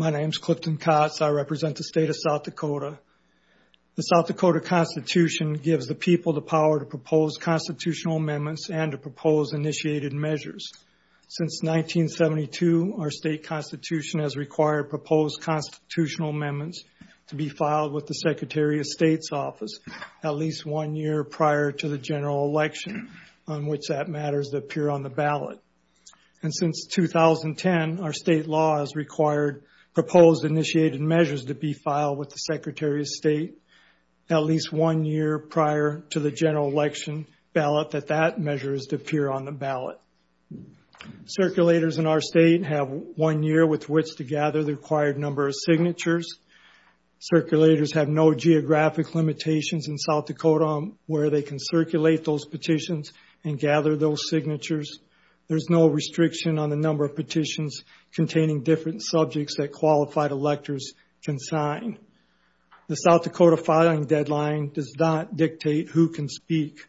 My name is Clifton Kotz, I represent the state of South Dakota. The South Dakota Constitution gives the people the power to propose constitutional amendments and to propose initiated measures. Since 1972, our state constitution has required proposed constitutional amendments to be filed with the Secretary of State's office at least one year prior to the general election on which that matters to appear on the ballot. And since 2010, our state law has required proposed initiated measures to be filed with the Secretary of State at least one year prior to the general election ballot that that measure is to appear on the ballot. Circulators in our state have one year with which to gather the required number of signatures. Circulators have no geographic limitations in South Dakota where they can circulate those signatures. There's no restriction on the number of petitions containing different subjects that qualified electors can sign. The South Dakota filing deadline does not dictate who can speak,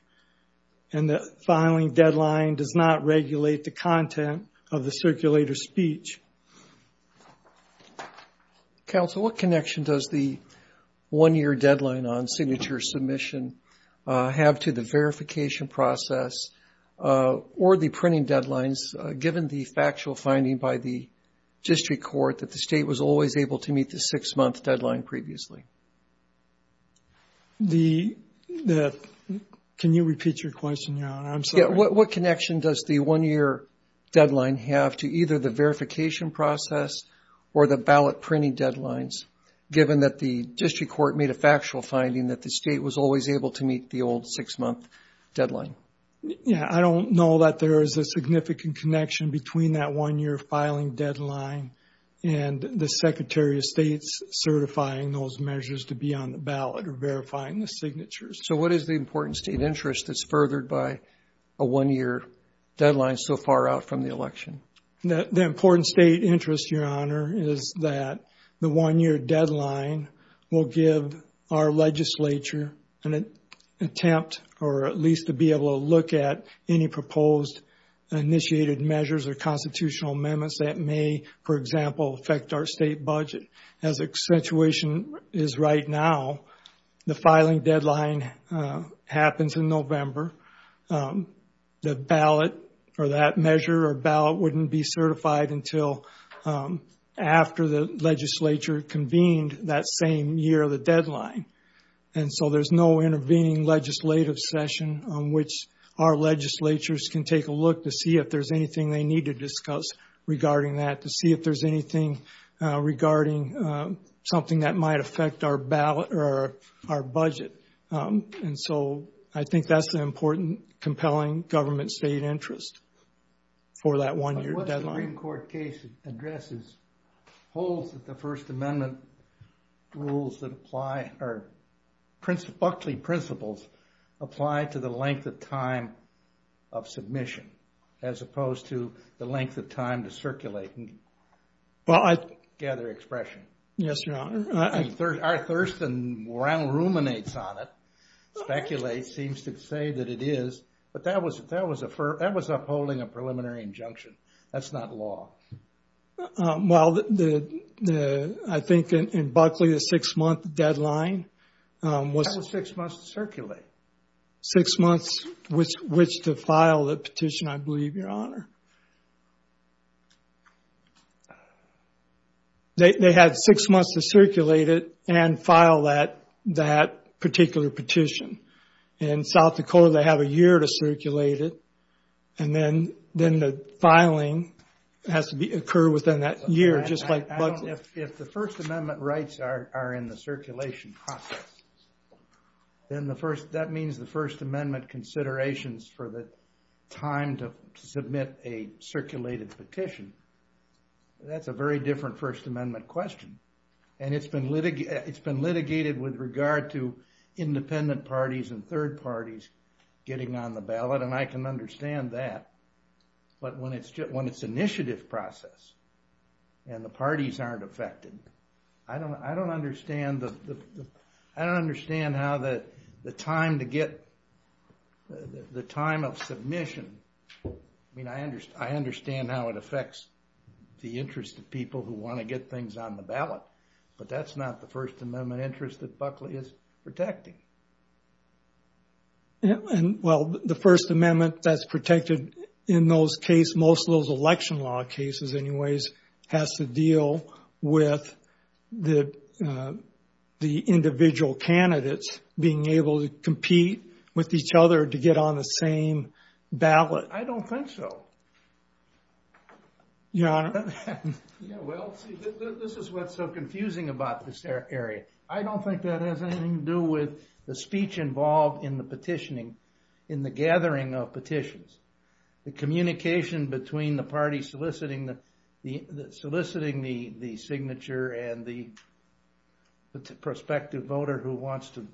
and the filing deadline does not regulate the content of the circulator's speech. MR. BOUTROUS Counsel, what connection does the one-year or the printing deadlines, given the factual finding by the district court that the state was always able to meet the six-month deadline previously? MR. BOUTROUS The – can you repeat your question, Your I'm sorry. MR. BOUTROUS Yeah. What connection does the one-year deadline have to either the verification process or the ballot printing deadlines, given that the district court made a factual finding that the state was always able to meet the old six-month deadline? MR. BOUTROUS I know that there is a significant connection between that one-year filing deadline and the Secretary of State's certifying those measures to be on the ballot or verifying the signatures. MR. BOUTROUS So what is the important state interest that's furthered by a one-year deadline so far out from the election? MR. BOUTROUS The important state interest, Your Honor, is that the one-year deadline will give our legislature an attempt, or at least to be able to look at any proposed initiated measures or constitutional amendments that may, for example, affect our state budget. As the situation is right now, the filing deadline happens in November. The ballot or that measure or ballot wouldn't be certified until after the legislature convened that same year of the deadline. And so there's no intervening legislative session on which our legislatures can take a look to see if there's anything they need to discuss regarding that, to see if there's anything regarding something that might affect our budget. And so I think that's the important compelling government state interest for that one-year deadline. MR. BOUTROUS Well, I think there are certain rules that apply, or buckling principles, apply to the length of time of submission, as opposed to the length of time to circulate and gather expression. MR. BOUTROUS Yes, Your Honor. MR. BOUTROUS Our thirst and morale ruminates on it, speculates, seems to say that it is. But that was upholding a preliminary injunction. That's not law. MR. BOUTROUS In Buckley, the six-month deadline was... BOUTROUS That was six months to circulate. MR. BOUTROUS Six months, which to file the petition, I believe, Your Honor. They had six months to circulate it and file that particular petition. In South Dakota, they have a year to circulate it. And then the filing has to occur within that year, just like Buckley. If the First Amendment rights are in the circulation process, then that means the First Amendment considerations for the time to submit a circulated petition. That's a very different First Amendment question. And it's been litigated with regard to independent parties and third parties getting on the ballot. And I can understand that. But when it's an initiative process, and the parties aren't affected, I don't understand how the time to get, the time of submission, I mean, I understand how it affects the interest of people who want to get things on the ballot. But that's not the First Amendment interest that Buckley is protecting. MR. In those case, most of those election law cases, anyways, has to deal with the individual candidates being able to compete with each other to get on the same ballot. MR. I don't think so. MR. Your Honor. MR. Yeah, well, see, this is what's so confusing about this area. I don't think that has anything to do with the speech involved in the petitioning, in the gathering of petitions. The communication between the parties soliciting the signature and the prospective voter who wants to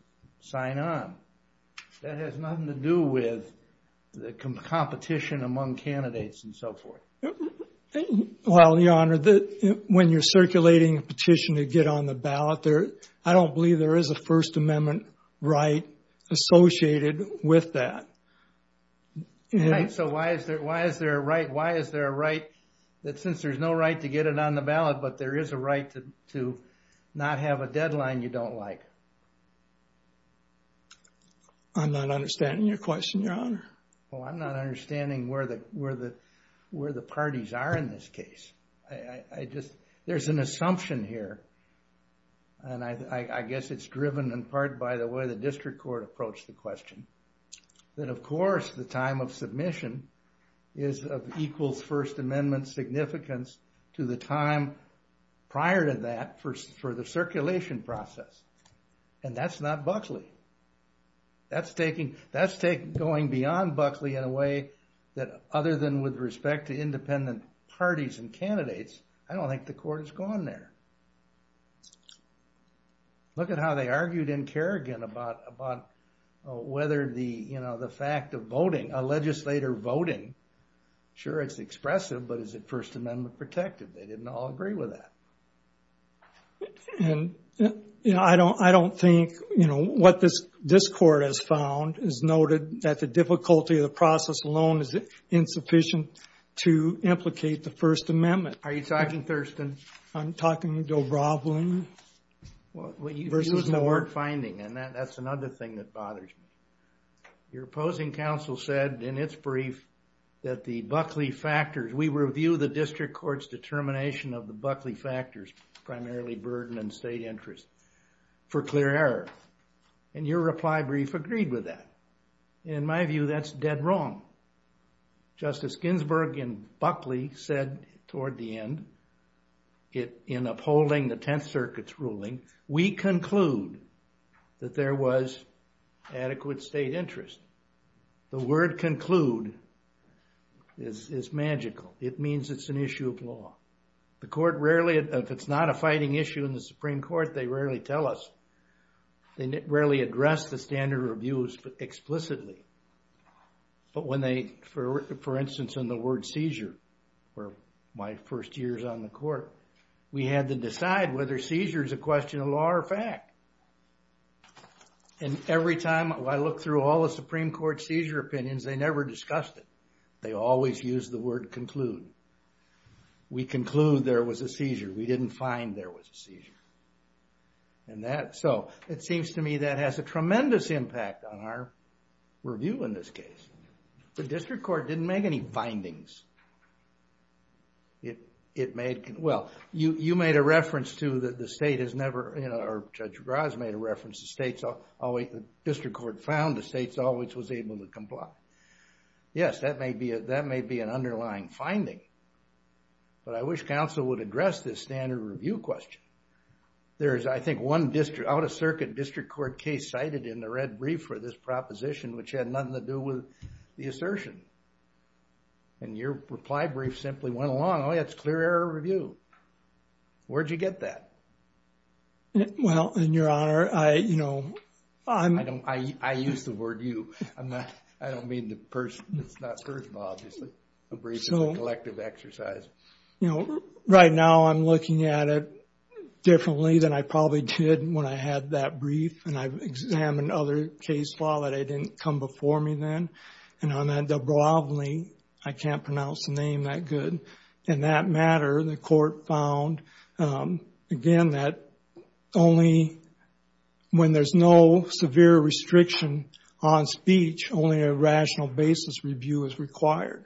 sign on, that has nothing to do with the competition among candidates and so forth. MR. Well, Your Honor, when you're circulating a petition to get on the ballot, I don't believe there is a First Amendment right associated with that. MR. Right. So why is there a right, why is there a right, that since there's no right to get it on the ballot, but there is a right to not have a deadline you don't like? MR. I'm not understanding your question, Your Honor. MR. Well, I'm not understanding where the parties are in this case. There's an assumption here, and I guess it's driven in part by the way the district court approached the question, that of course the time of submission is of equal First Amendment significance to the time prior to that for the circulation process. And that's not Buckley. That's going beyond Buckley in a way that other than with respect to independent parties and candidates, I don't think the court has gone there. MR. Look at how they argued in Kerrigan about whether the fact of voting, a legislator voting, sure it's expressive, but is it First Amendment protective? They didn't all agree with that. MR. And I don't think what this court has found is noted that the difficulty of the process alone is insufficient to implicate the First Amendment. MR. Are you talking, Thurston? MR. I'm talking to Roblin. MR. Well, you've used the word finding, and that's another thing that bothers me. Your opposing counsel said in its brief that the Buckley factors, we review the district court's determination of the Buckley factors, primarily burden and state interest, for clear error. And your reply brief agreed with that. In my view, that's dead wrong. Justice Ginsburg in Buckley said toward the end, in upholding the Tenth Circuit's ruling, we conclude that there was adequate state interest. The word conclude is magical. It means it's an issue of law. The court rarely, if it's not a fighting issue in the Supreme Court, they rarely tell us. They rarely address the standard of abuse explicitly. But when they, for instance, in the word seizure, where my first year's on the court, we had to decide whether seizure is a question of law or fact. And every time I look through all the Supreme Court seizure opinions, they never discussed it. They always use the word conclude. We conclude there was a seizure. We didn't find there was a seizure. And that, so, it seems to me that has a tremendous impact on our review in this case. The district court didn't make any findings. It made, well, you made a reference to the state has never, or Judge Graz made a reference to states always, the district court found the states always was able to comply. Yes, that may be an underlying finding. But I wish counsel would address this standard review question. There is, I think, one out-of-circuit district court case cited in the red brief for this proposition, which had nothing to do with the assertion. And your reply brief simply went along, oh, yeah, it's clear error review. Where'd you get that? Well, in your honor, I, you know, I'm I don't, I use the word you. I'm not, I don't mean the person, it's not personal, obviously. A brief is a collective exercise. You know, right now I'm looking at it differently than I probably did when I had that brief. And I've examined other case law that didn't come before me then. And on that Dubrovni, I can't pronounce the name that good. In that matter, the court found, again, that only when there's no severe restriction on speech, only a rational basis review is required.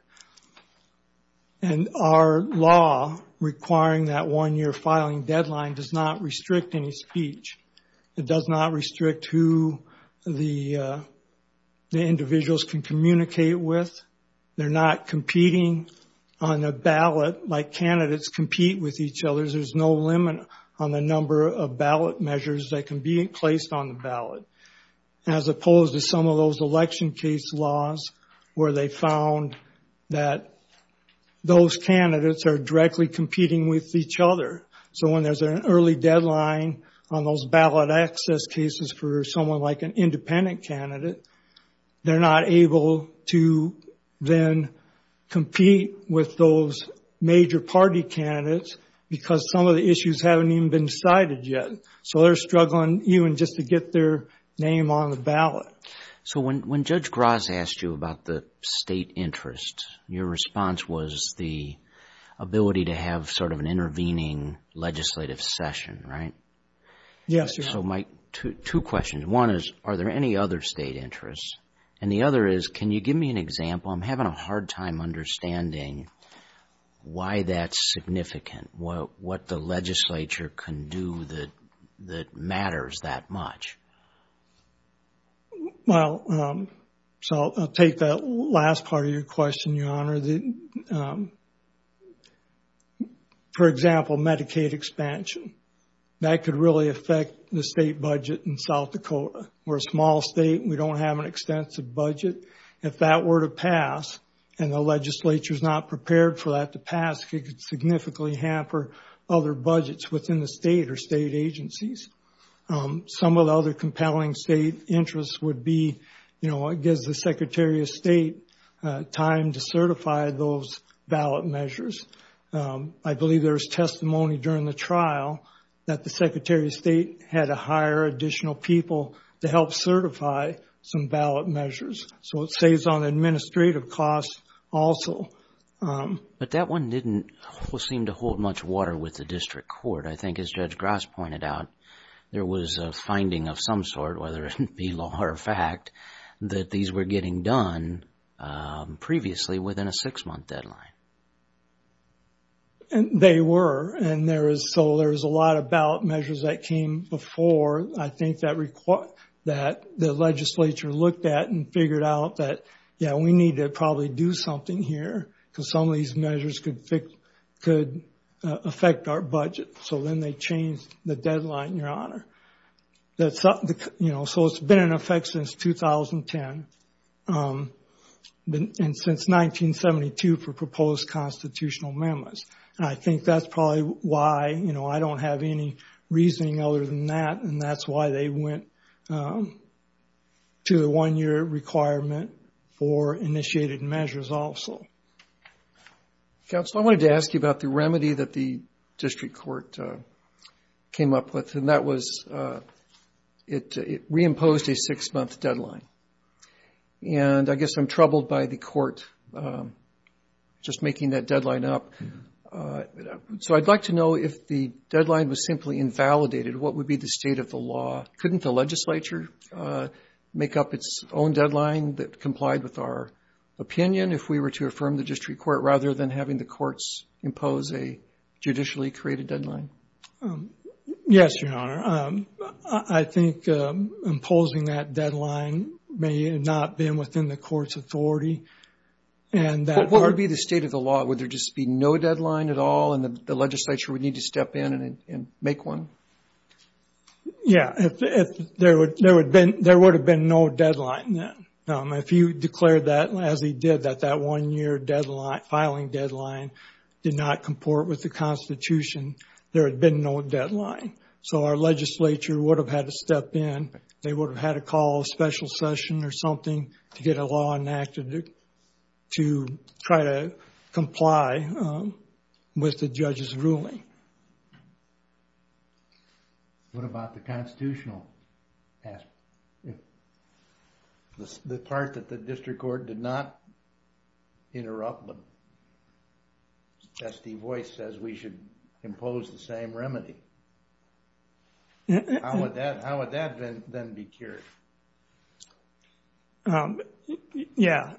And our law requiring that one-year filing deadline does not restrict any speech. It does not restrict who the individuals can communicate with. They're not competing on a ballot like candidates compete with each other. There's no limit on the number of ballot measures that can be placed on the ballot. As opposed to some of those election case laws where they found that those candidates are directly competing with each other. So when there's an early deadline on those ballot access cases for someone like an independent candidate, they're not able to then compete with those major party candidates because some of the issues haven't even been decided yet. So they're struggling even just to get their name on the ballot. So when Judge Graz asked you about the state interest, your response was the ability to have sort of an intervening legislative session, right? Yes, sir. So my two questions. One is, are there any other state interests? And the other is, can you give me an example? I'm having a hard time understanding why that's significant. What the legislature can do that matters that much. Well, so I'll take that last part of your question, Your Honor. For example, Medicaid expansion. That could really affect the state budget in South Dakota. We're a small state and we don't have an extensive budget. If that were to pass and the legislature is not prepared for that to pass, it could significantly hamper other budgets within the state or state agencies. Some of the other compelling state interests would be, you know, it gives the Secretary of State time to certify those ballot measures. I believe there was testimony during the trial that the Secretary of State had to hire additional people to help certify some ballot measures. So it saves on administrative costs also. But that one didn't seem to hold much water with the district court. I think as Judge Grass pointed out, there was a finding of some sort, whether it be law or fact, that these were getting done previously within a six-month deadline. And they were, and so there was a lot of ballot measures that came before, I think, that the legislature looked at and figured out that, yeah, we need to probably do something here because some of these measures could affect our budget. So then they changed the deadline, Your Honor. That's, you know, so it's been in effect since 2010 and since 1972 for proposed constitutional memos. And I think that's probably why, you know, I don't have any reasoning other than that. And that's why they went to the one-year requirement for initiated measures also. Counsel, I wanted to ask you about the remedy that the district court came up with. And that was it reimposed a six-month deadline. And I guess I'm troubled by the court just making that deadline up. So I'd like to know if the deadline was simply invalidated, what would be the state of the law? Couldn't the legislature make up its own deadline that complied with our opinion if we were to affirm the district court rather than having the courts impose a judicially created deadline? Yes, Your Honor. I think imposing that deadline may not have been within the court's authority. What would be the state of the law? Would there just be no deadline at all and the legislature would need to step in and make one? Yeah, there would have been no deadline then. If you declared that as he did, that that one-year filing deadline did not comport with the Constitution, there had been no deadline. So our legislature would have had to step in. They would have had to call a special session or something to get a law enacted to try to comply with the judge's ruling. What about the constitutional aspect? The part that the district court did not interrupt, but S.D. Voice says we should impose the same remedy. How would that then be cured? Yeah,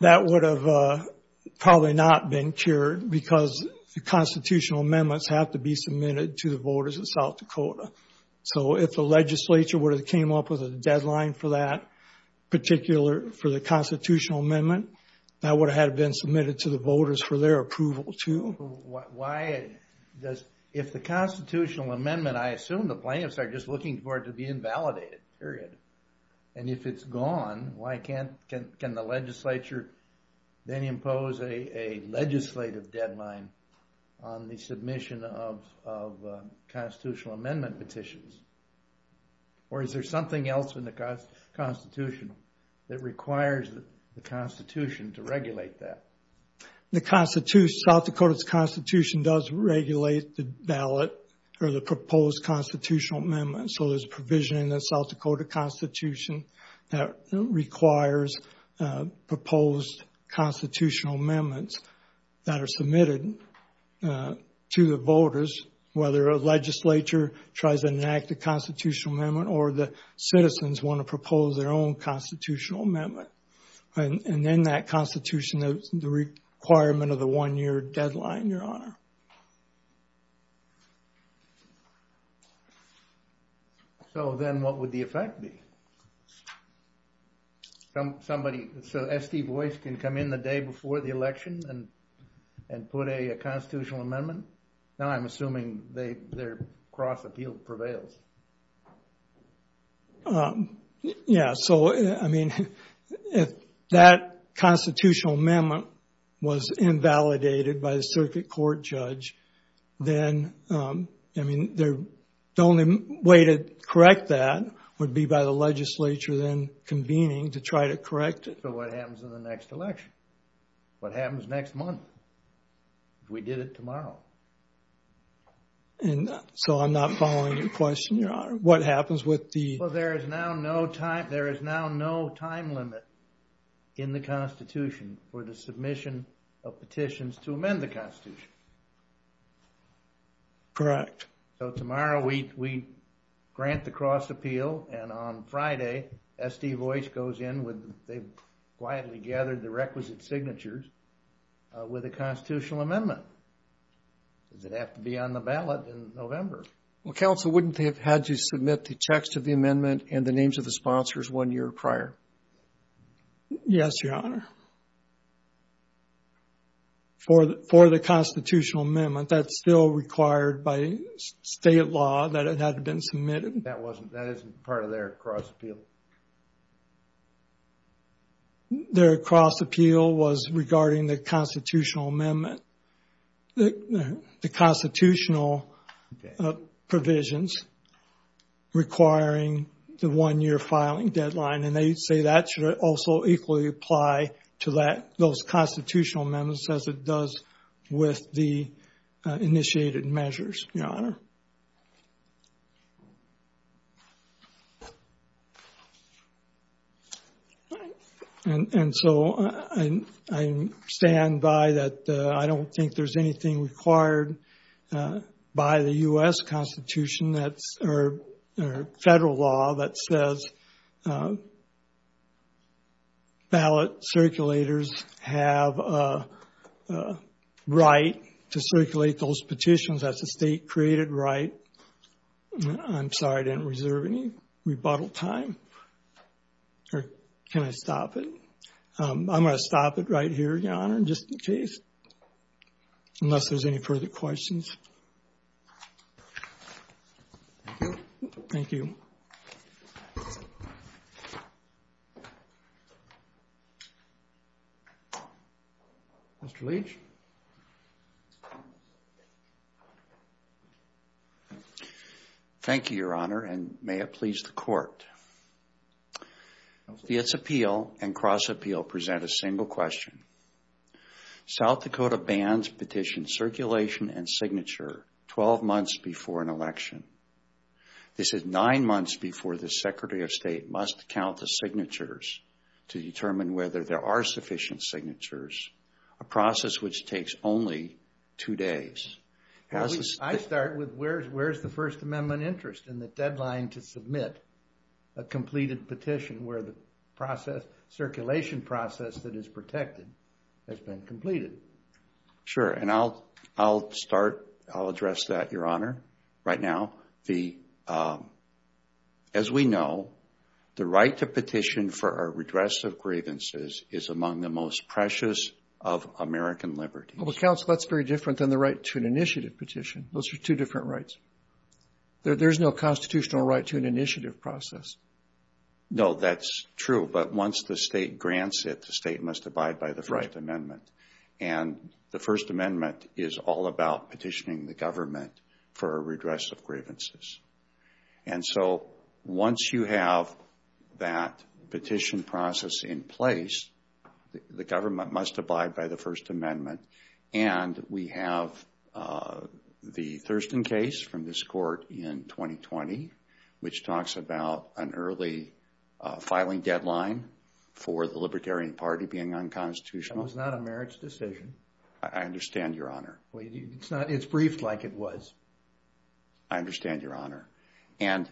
that would have probably not been cured because the constitutional amendments have to be submitted to the voters of South Dakota. So if the legislature would have came up with a deadline for that particular, for the constitutional amendment, that would have been submitted to the voters for their approval, too. Why does, if the constitutional amendment, I assume the plaintiffs are just looking for it to be invalidated, period. And if it's gone, why can't, can the legislature then impose a legislative deadline on the submission of constitutional amendment petitions? Or is there something else in the Constitution that requires the Constitution to regulate that? The Constitution, South Dakota's Constitution does regulate the ballot or the proposed constitutional amendment. So there's provision in the South Dakota Constitution that requires proposed constitutional amendments that are submitted to the voters, whether a legislature tries to enact a constitutional amendment or the citizens want to propose their own constitutional amendment. And then that Constitution, the requirement of the one-year deadline, Your Honor. So then what would the effect be? Somebody, so S.T. Boyce can come in the day before the election and put a constitutional amendment? Now I'm assuming their cross-appeal prevails. Yeah. So, I mean, if that constitutional amendment was invalidated by the circuit court judge, then, I mean, the only way to correct that would be by the legislature then convening to try to correct it. So what happens in the next election? What happens next month? We did it tomorrow. And so I'm not following your question, Your Honor. What happens with the... Well, there is now no time. There is now no time limit in the Constitution for the submission of petitions to amend the Constitution. Correct. So tomorrow we grant the cross-appeal and on Friday, S.T. Boyce goes in with, they've quietly gathered the requisite signatures with a constitutional amendment. Does it have to be on the ballot in November? Well, counsel, wouldn't they have had to submit the text of the amendment and the names of the sponsors one year prior? Yes, Your Honor. For the constitutional amendment, that's still required by state law that it had been submitted. That wasn't, that isn't part of their cross-appeal. Their cross-appeal was regarding the constitutional amendment. The constitutional provisions requiring the one-year filing deadline. And they say that should also equally apply to that, those constitutional amendments as it does with the initiated measures, Your Honor. And so I stand by that I don't think there's anything required by the U.S. Constitution that's, or federal law that says ballot circulators have a right to circulate those petitions. That's a state-created right. I'm sorry, I didn't reserve any rebuttal time. Or can I stop it? I'm going to stop it right here, Your Honor, just in case, unless there's any further questions. Thank you. Mr. Leach? Thank you, Your Honor, and may it please the Court. Its appeal and cross-appeal present a single question. South Dakota bans petition circulation and signature 12 months before an election. This is nine months before the Secretary of State must count the signatures to determine whether there are sufficient signatures, a process which takes only two days. I start with where's the First Amendment interest in the deadline to submit a completed petition where the process, circulation process that is protected has been completed? Sure, and I'll start, I'll address that, Your Honor. Right now, as we know, the right to petition for a redress of grievances is among the most precious of American liberties. Well, counsel, that's very different than the right to an initiative petition. Those are two different rights. There's no constitutional right to an initiative process. No, that's true. But once the state grants it, the state must abide by the First Amendment. And the First Amendment is all about petitioning the government for a redress of grievances. And so once you have that petition process in place, the government must abide by the First Amendment. And we have the Thurston case from this court in 2020, which talks about an early filing deadline for the Libertarian Party being unconstitutional. It was not a merits decision. I understand, Your Honor. Well, it's not, it's briefed like it was. I understand, Your Honor. And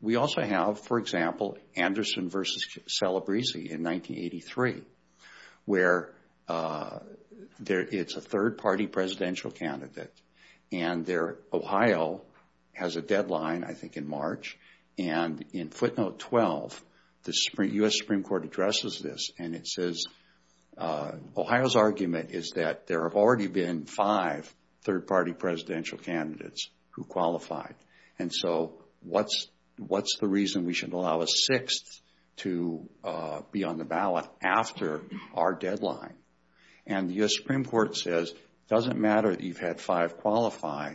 we also have, for example, Anderson versus Celebrezzi in 1983, where it's a third party presidential candidate. And Ohio has a deadline, I think, in March. And in footnote 12, the U.S. Supreme Court addresses this and it says, Ohio's argument is that there have already been five third party presidential candidates who qualified. And so what's the reason we should allow a sixth to be on the ballot after our deadline? And the U.S. Supreme Court says, it doesn't matter that you've had five qualify.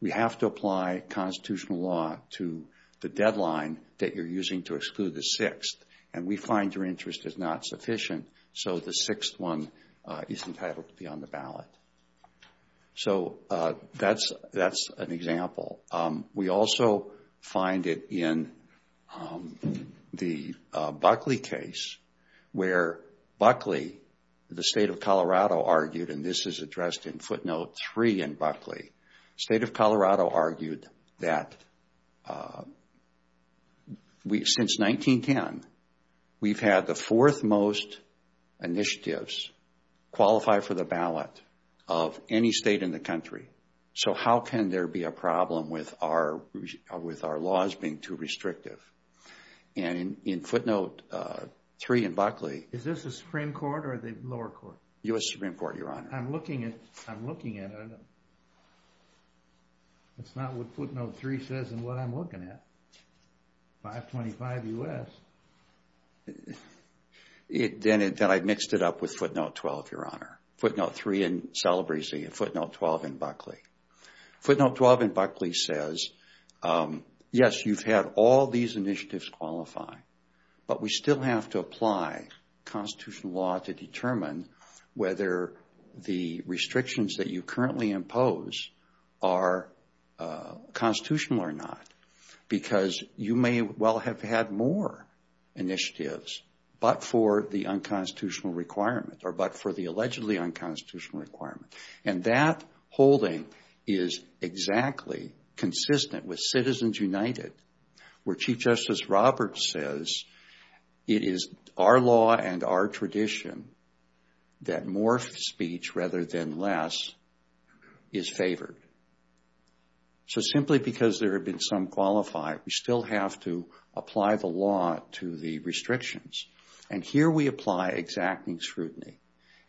We have to apply constitutional law to the deadline that you're using to exclude the sixth. And we find your interest is not sufficient. So the sixth one is entitled to be on the ballot. So that's an example. We also find it in the Buckley case, where Buckley, the state of Colorado argued, and this is addressed in footnote three in Buckley. State of Colorado argued that since 1910, we've had the fourth most initiatives qualify for the ballot of any state in the country. So how can there be a problem with our laws being too restrictive? And in footnote three in Buckley. Is this the Supreme Court or the lower court? U.S. Supreme Court, Your Honor. I'm looking at it. It's not what footnote three says and what I'm looking at. 525 U.S. Then I mixed it up with footnote 12, Your Honor. Footnote three celebrates the footnote 12 in Buckley. Footnote 12 in Buckley says, yes, you've had all these initiatives qualify, but we still have to apply constitutional law to determine whether the restrictions that you currently impose are constitutional or not. Because you may well have had more initiatives, but for the unconstitutional requirement or but for the allegedly unconstitutional requirement. And that holding is exactly consistent with Citizens United, where Chief Justice Roberts says it is our law and our tradition that more speech rather than less is favored. So simply because there have been some qualified, we still have to apply the law to the restrictions. And here we apply exacting scrutiny.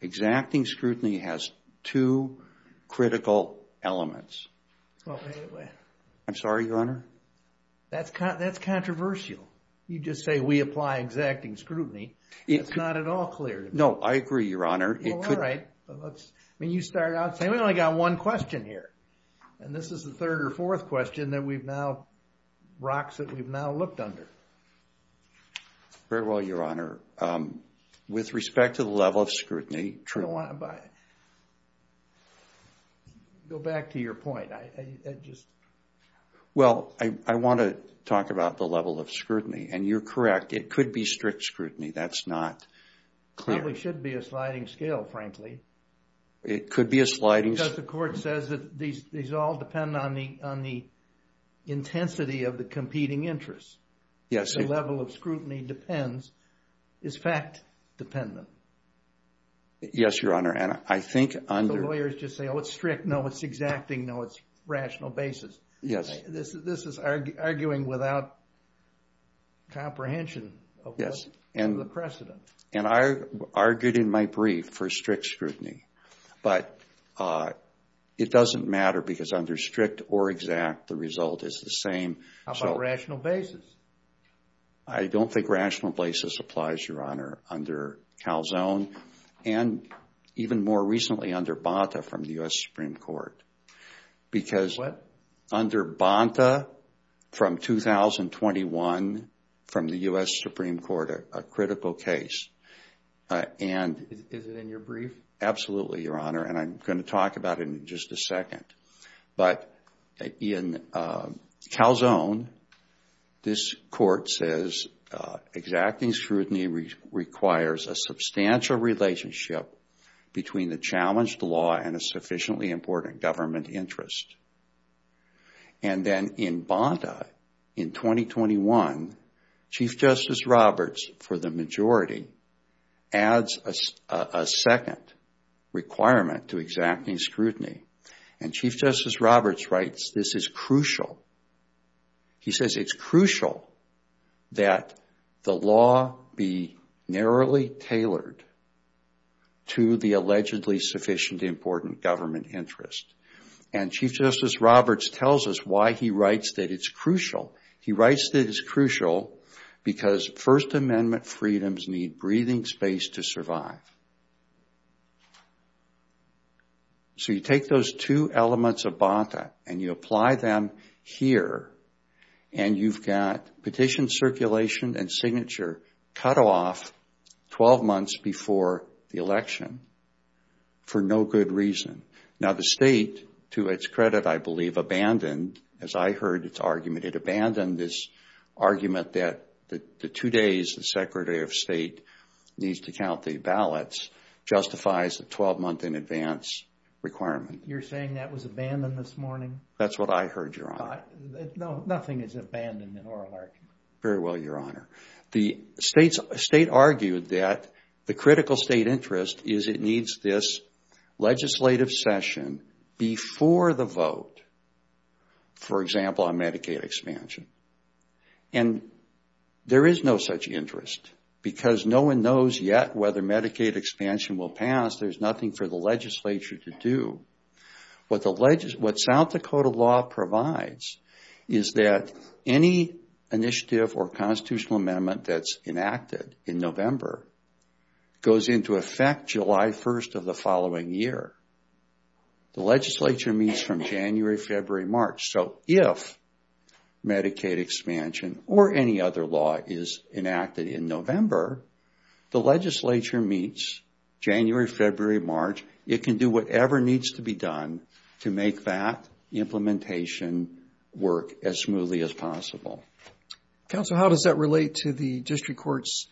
Exacting scrutiny has two critical elements. I'm sorry, Your Honor. That's controversial. You just say we apply exacting scrutiny. It's not at all clear. No, I agree, Your Honor. All right. I mean, you start out saying we only got one question here. And this is the third or fourth question that we've now, rocks that we've now looked under. Very well, Your Honor. With respect to the level of scrutiny. True. Go back to your point. I just. Well, I want to talk about the level of scrutiny and you're correct. It could be strict scrutiny. That's not. Clearly should be a sliding scale, frankly. It could be a sliding. Because the court says that these all depend on the intensity of the competing interests. Yes. The level of scrutiny depends, is fact dependent. Yes, Your Honor. And I think under. The lawyers just say, oh, it's strict. No, it's exacting. No, it's rational basis. Yes. This is arguing without comprehension of the precedent. And I argued in my brief for strict scrutiny. But it doesn't matter because under strict or exact, the result is the same. How about rational basis? I don't think rational basis applies, Your Honor, under Calzone and even more recently under Bonta from the U.S. Supreme Court, because under Bonta from 2021 from the U.S. Supreme Court, a critical case. And is it in your brief? Absolutely, Your Honor. And I'm going to talk about it in just a second. But in Calzone, this court says exacting scrutiny requires a substantial relationship between the challenged law and a sufficiently important government interest. And then in Bonta in 2021, Chief Justice Roberts, for the majority, adds a second requirement to exacting scrutiny. And Chief Justice Roberts writes, this is crucial. He says it's crucial that the law be narrowly tailored to the allegedly sufficient important government interest. And Chief Justice Roberts tells us why he writes that it's crucial. He writes that it's crucial because First Amendment freedoms need breathing space to survive. So you take those two elements of Bonta and you apply them here and you've got petition circulation and signature cut off 12 months before the election for no good reason. Now, the state, to its credit, I believe, abandoned, as I heard its argument, it abandoned this argument that the two days the Secretary of State needs to count the ballots justifies the 12-month in advance requirement. You're saying that was abandoned this morning? That's what I heard, Your Honor. No, nothing is abandoned in oral argument. Very well, Your Honor. The state argued that the critical state interest is it needs this legislative session before the vote, for example, on Medicaid expansion. And there is no such interest because no one knows yet whether Medicaid expansion will pass. There's nothing for the legislature to do. What South Dakota law provides is that any initiative or constitutional amendment that's enacted in November goes into effect July 1st of the following year. The legislature meets from January, February, March. So if Medicaid expansion or any other law is enacted in November, the legislature meets January, February, March. It can do whatever needs to be done to make that implementation work as smoothly as possible. Counsel, how does that relate to the district court's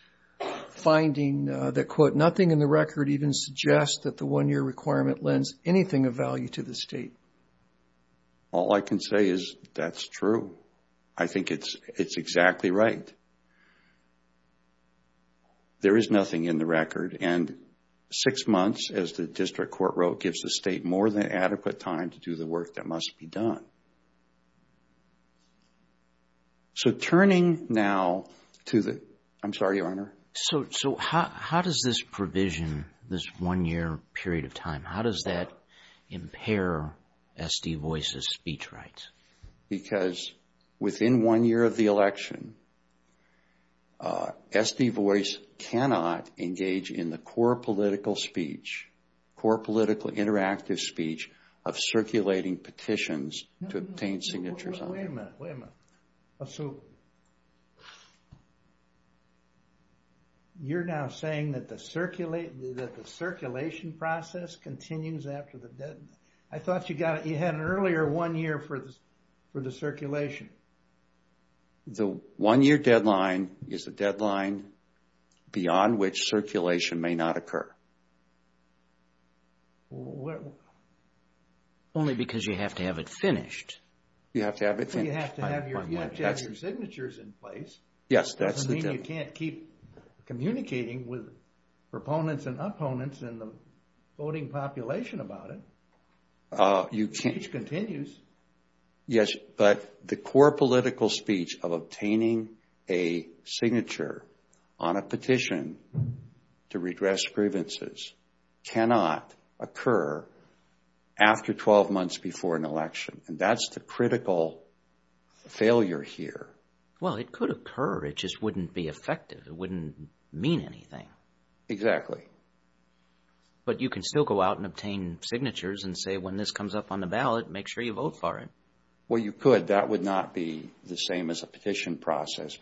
finding that, quote, nothing in the record even suggests that the one-year requirement lends anything of value to the state? All I can say is that's true. I think it's exactly right. There is nothing in the record and six months, as the district court wrote, gives the state more than adequate time to do the work that must be done. So turning now to the, I'm sorry, Your Honor. So how does this provision, this one-year period of time, how does that impair S.D. Voice's speech rights? Because within one year of the election, S.D. Voice cannot engage in the core political speech, core political interactive speech of circulating petitions to obtain signatures on. Wait a minute, wait a minute. So you're now saying that the circulation process continues after the I thought you got it, you had an earlier one year for the circulation. The one-year deadline is a deadline beyond which circulation may not occur. Only because you have to have it finished. You have to have it finished. You have to have your signatures in place. Yes, that's the deal. Doesn't mean you can't keep communicating with proponents and opponents and the voting population about it. Speech continues. Yes, but the core political speech of obtaining a signature on a petition to redress grievances cannot occur after 12 months before an election, and that's the critical failure here. Well, it could occur. It just wouldn't be effective. It wouldn't mean anything. Exactly. But you can still go out and obtain signatures and say, when this comes up on the ballot, make sure you vote for it. Well, you could. That would not be the same as a petition process.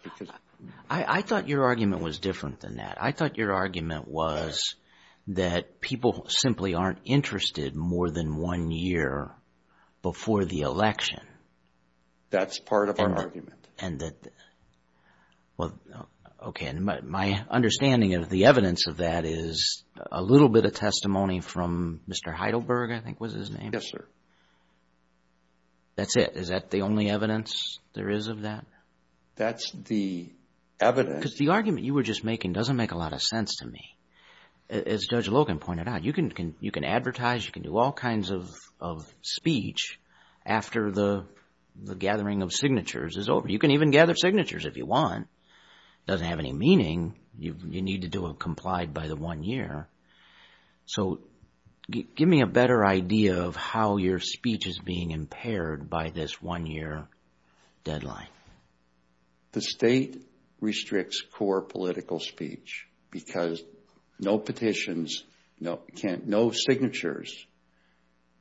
I thought your argument was different than that. I thought your argument was that people simply aren't interested more than one year before the election. That's part of our argument. And that, well, okay. And my understanding of the evidence of that is a little bit of testimony from Mr. Heidelberg, I think was his name. Yes, sir. That's it. Is that the only evidence there is of that? That's the evidence. Because the argument you were just making doesn't make a lot of sense to me. As Judge Logan pointed out, you can advertise, you can do all kinds of speech after the gathering of signatures is over. You can even gather signatures if you want, doesn't have any meaning. You need to do a complied by the one year. So give me a better idea of how your speech is being impaired by this one year deadline. The state restricts core political speech because no petitions, no signatures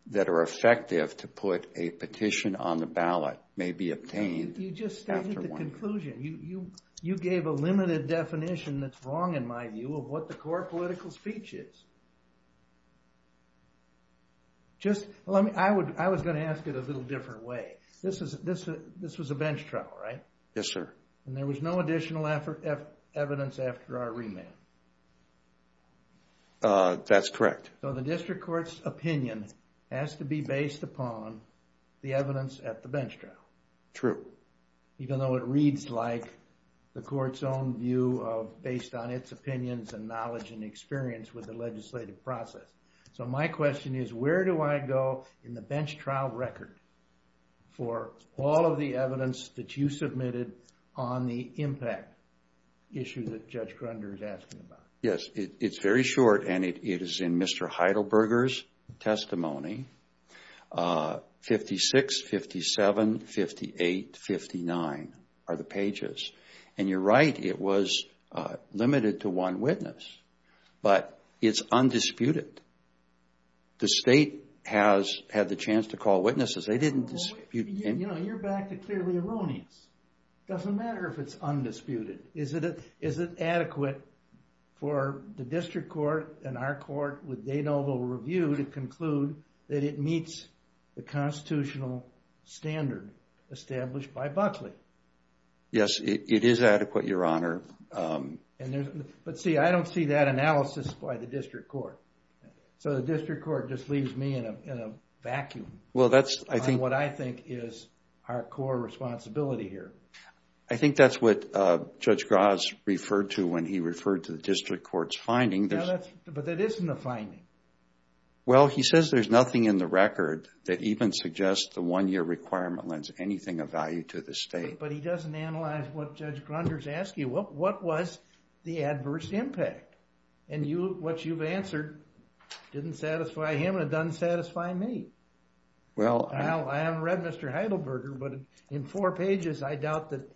that are effective to put a petition on the ballot may be obtained. You just stated the conclusion, you gave a limited definition that's wrong in my view of what the core political speech is. Just let me, I was going to ask it a little different way. This was a bench trial, right? Yes, sir. And there was no additional evidence after our remand. That's correct. So the district court's opinion has to be based upon the evidence at the bench trial. True. Even though it reads like the court's own view of based on its opinions and knowledge and experience with the legislative process. So my question is, where do I go in the bench trial record for all of the evidence that you submitted on the impact issue that Judge Grunder is asking about? Yes, it's very short and it is in Mr. Heidelberger's testimony. 56, 57, 58, 59 are the pages. And you're right, it was limited to one witness, but it's undisputed. The state has had the chance to call witnesses. They didn't dispute anything. You know, you're back to clearly erroneous. Doesn't matter if it's undisputed. Is it adequate for the district court and our court with Danoble review to that it meets the constitutional standard established by Buckley? Yes, it is adequate, Your Honor. But see, I don't see that analysis by the district court. So the district court just leaves me in a vacuum. Well, that's what I think is our core responsibility here. I think that's what Judge Graz referred to when he referred to the district court's finding. But that isn't a finding. Well, he says there's nothing in the record that even suggests the one-year requirement lends anything of value to the state. But he doesn't analyze what Judge Grunders asked you. What was the adverse impact? And what you've answered didn't satisfy him and it doesn't satisfy me. Well, I haven't read Mr. Heidelberger, but in four pages, I doubt that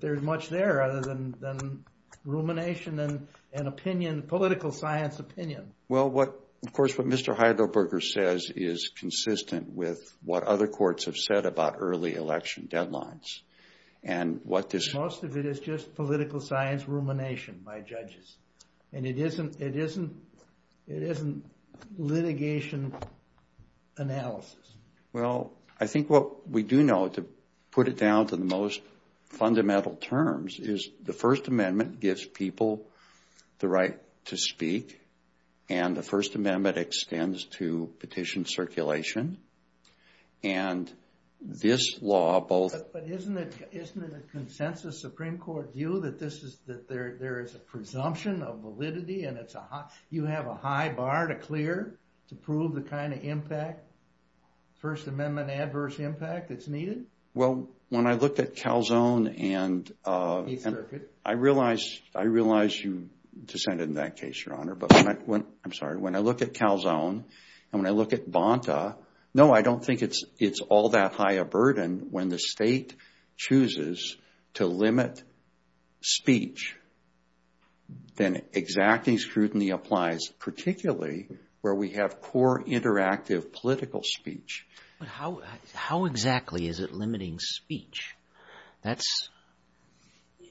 there's much there other than rumination and an opinion, political science opinion. Well, what, of course, what Mr. Heidelberger says is consistent with what other courts have said about early election deadlines and what this... Most of it is just political science rumination by judges. And it isn't litigation analysis. Well, I think what we do know to put it down to the most fundamental terms is the right to speak and the First Amendment extends to petition circulation. And this law both... But isn't it a consensus Supreme Court view that there is a presumption of validity and you have a high bar to clear to prove the kind of impact, First Amendment adverse impact that's needed? Well, when I looked at Calzone and I realized I realized you descended in that case, Your Honor, but I'm sorry. When I look at Calzone and when I look at Bonta, no, I don't think it's it's all that high a burden when the state chooses to limit speech. Then exacting scrutiny applies, particularly where we have core interactive political speech. But how how exactly is it limiting speech? That's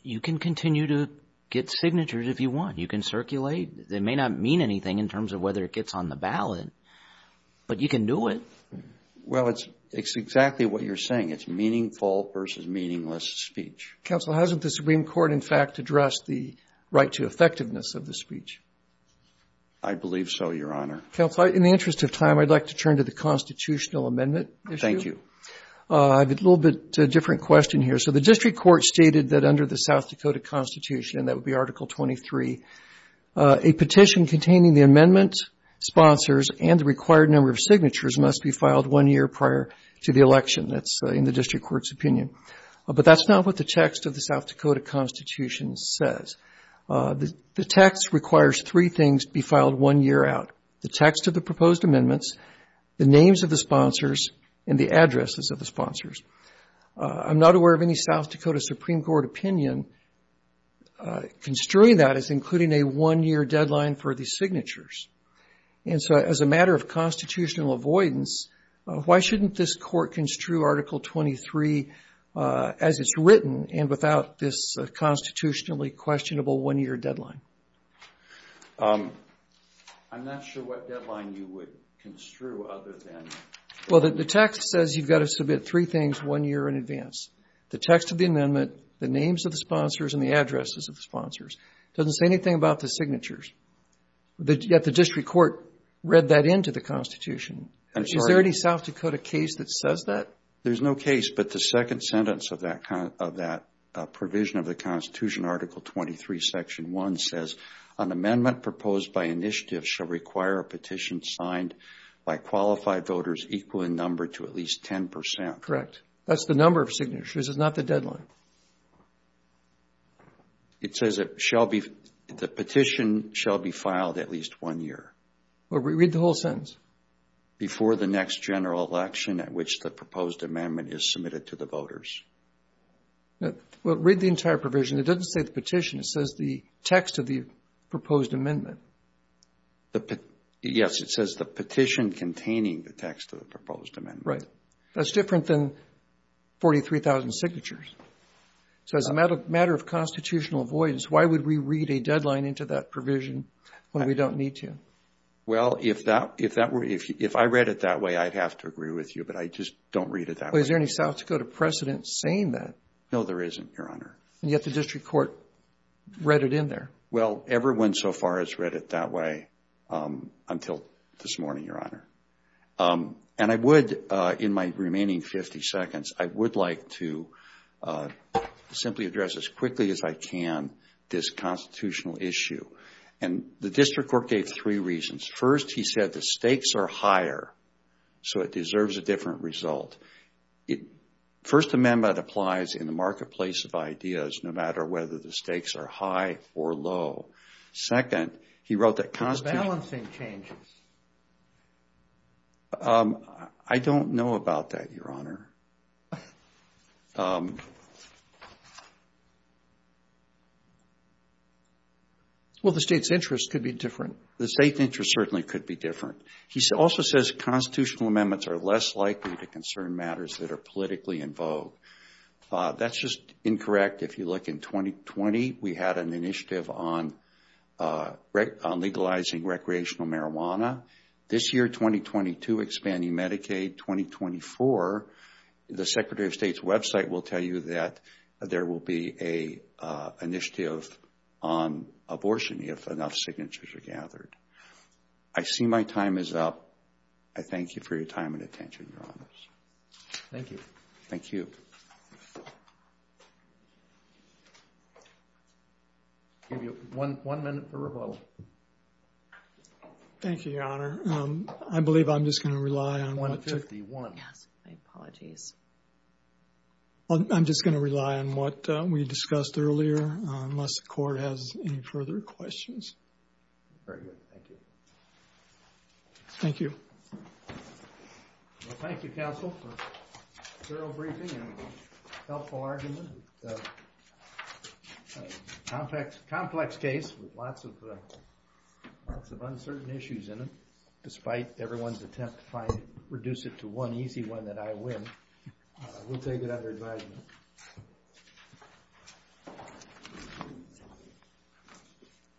you can continue to get signatures if you want. You can circulate. They may not mean anything in terms of whether it gets on the ballot, but you can do it. Well, it's it's exactly what you're saying. It's meaningful versus meaningless speech. Counsel, hasn't the Supreme Court, in fact, addressed the right to effectiveness of the speech? I believe so, Your Honor. Counsel, in the interest of time, I'd like to turn to the constitutional amendment. Thank you. I have a little bit different question here. So the district court stated that under the South Dakota Constitution, that would be Article 23, a petition containing the amendment sponsors and the required number of signatures must be filed one year prior to the election. That's in the district court's opinion. But that's not what the text of the South Dakota Constitution says. The text requires three things be filed one year out. The text of the proposed amendments, the names of the sponsors and the addresses of the sponsors. I'm not aware of any South Dakota Supreme Court opinion construing that as including a one year deadline for the signatures. And so as a matter of constitutional avoidance, why shouldn't this court construe Article 23 as it's written and without this constitutionally questionable one year deadline? I'm not sure what deadline you would construe other than... Well, the text says you've got to submit three things one year in advance. The text of the amendment, the names of the sponsors and the addresses of the sponsors doesn't say anything about the signatures. Yet the district court read that into the Constitution. Is there any South Dakota case that says that? There's no case, but the second sentence of that provision of the Constitution, Article 23, Section 1 says an amendment proposed by initiative shall require a petition signed by qualified voters equal in number to at least 10 percent. Correct. That's the number of signatures. It's not the deadline. It says it shall be, the petition shall be filed at least one year. Well, read the whole sentence. Before the next general election at which the proposed amendment is submitted to the voters. Well, read the entire provision. It doesn't say the petition. It says the text of the proposed amendment. Yes, it says the petition containing the text of the proposed amendment. Right. That's different than 43,000 signatures. So as a matter of constitutional avoidance, why would we read a deadline into that provision when we don't need to? Well, if I read it that way, I'd have to agree with you, but I just don't read it that way. Is there any South Dakota precedent saying that? No, there isn't, Your Honor. And yet the district court read it in there. Well, everyone so far has read it that way until this morning, Your Honor. And I would, in my remaining 50 seconds, I would like to simply address as quickly as I can this constitutional issue. And the district court gave three reasons. First, he said the stakes are higher, so it deserves a different result. First, the amendment applies in the marketplace of ideas, no matter whether the stakes are high or low. Second, he wrote that constitutional — But the balancing changes. I don't know about that, Your Honor. Well, the State's interest could be different. The State's interest certainly could be different. He also says constitutional amendments are less likely to concern matters that are politically in vogue. That's just incorrect. If you look in 2020, we had an initiative on legalizing recreational marijuana. This year, 2022, expanding Medicaid. 2024, the Secretary of State's website will tell you that there will be an initiative on abortion if enough signatures are gathered. I see my time is up. I thank you for your time and attention, Your Honors. Thank you. Thank you. I'll give you one minute for rebuttal. Thank you, Your Honor. I believe I'm just going to rely on — 1.51. Yes, my apologies. I'm just going to rely on what we discussed earlier, unless the court has any further questions. Very good. Thank you. Thank you. Well, thank you, counsel, for a thorough briefing and a helpful argument. It's a complex case with lots of uncertain issues in it. Despite everyone's attempt to reduce it to one easy one that I win, we'll take it under advisement.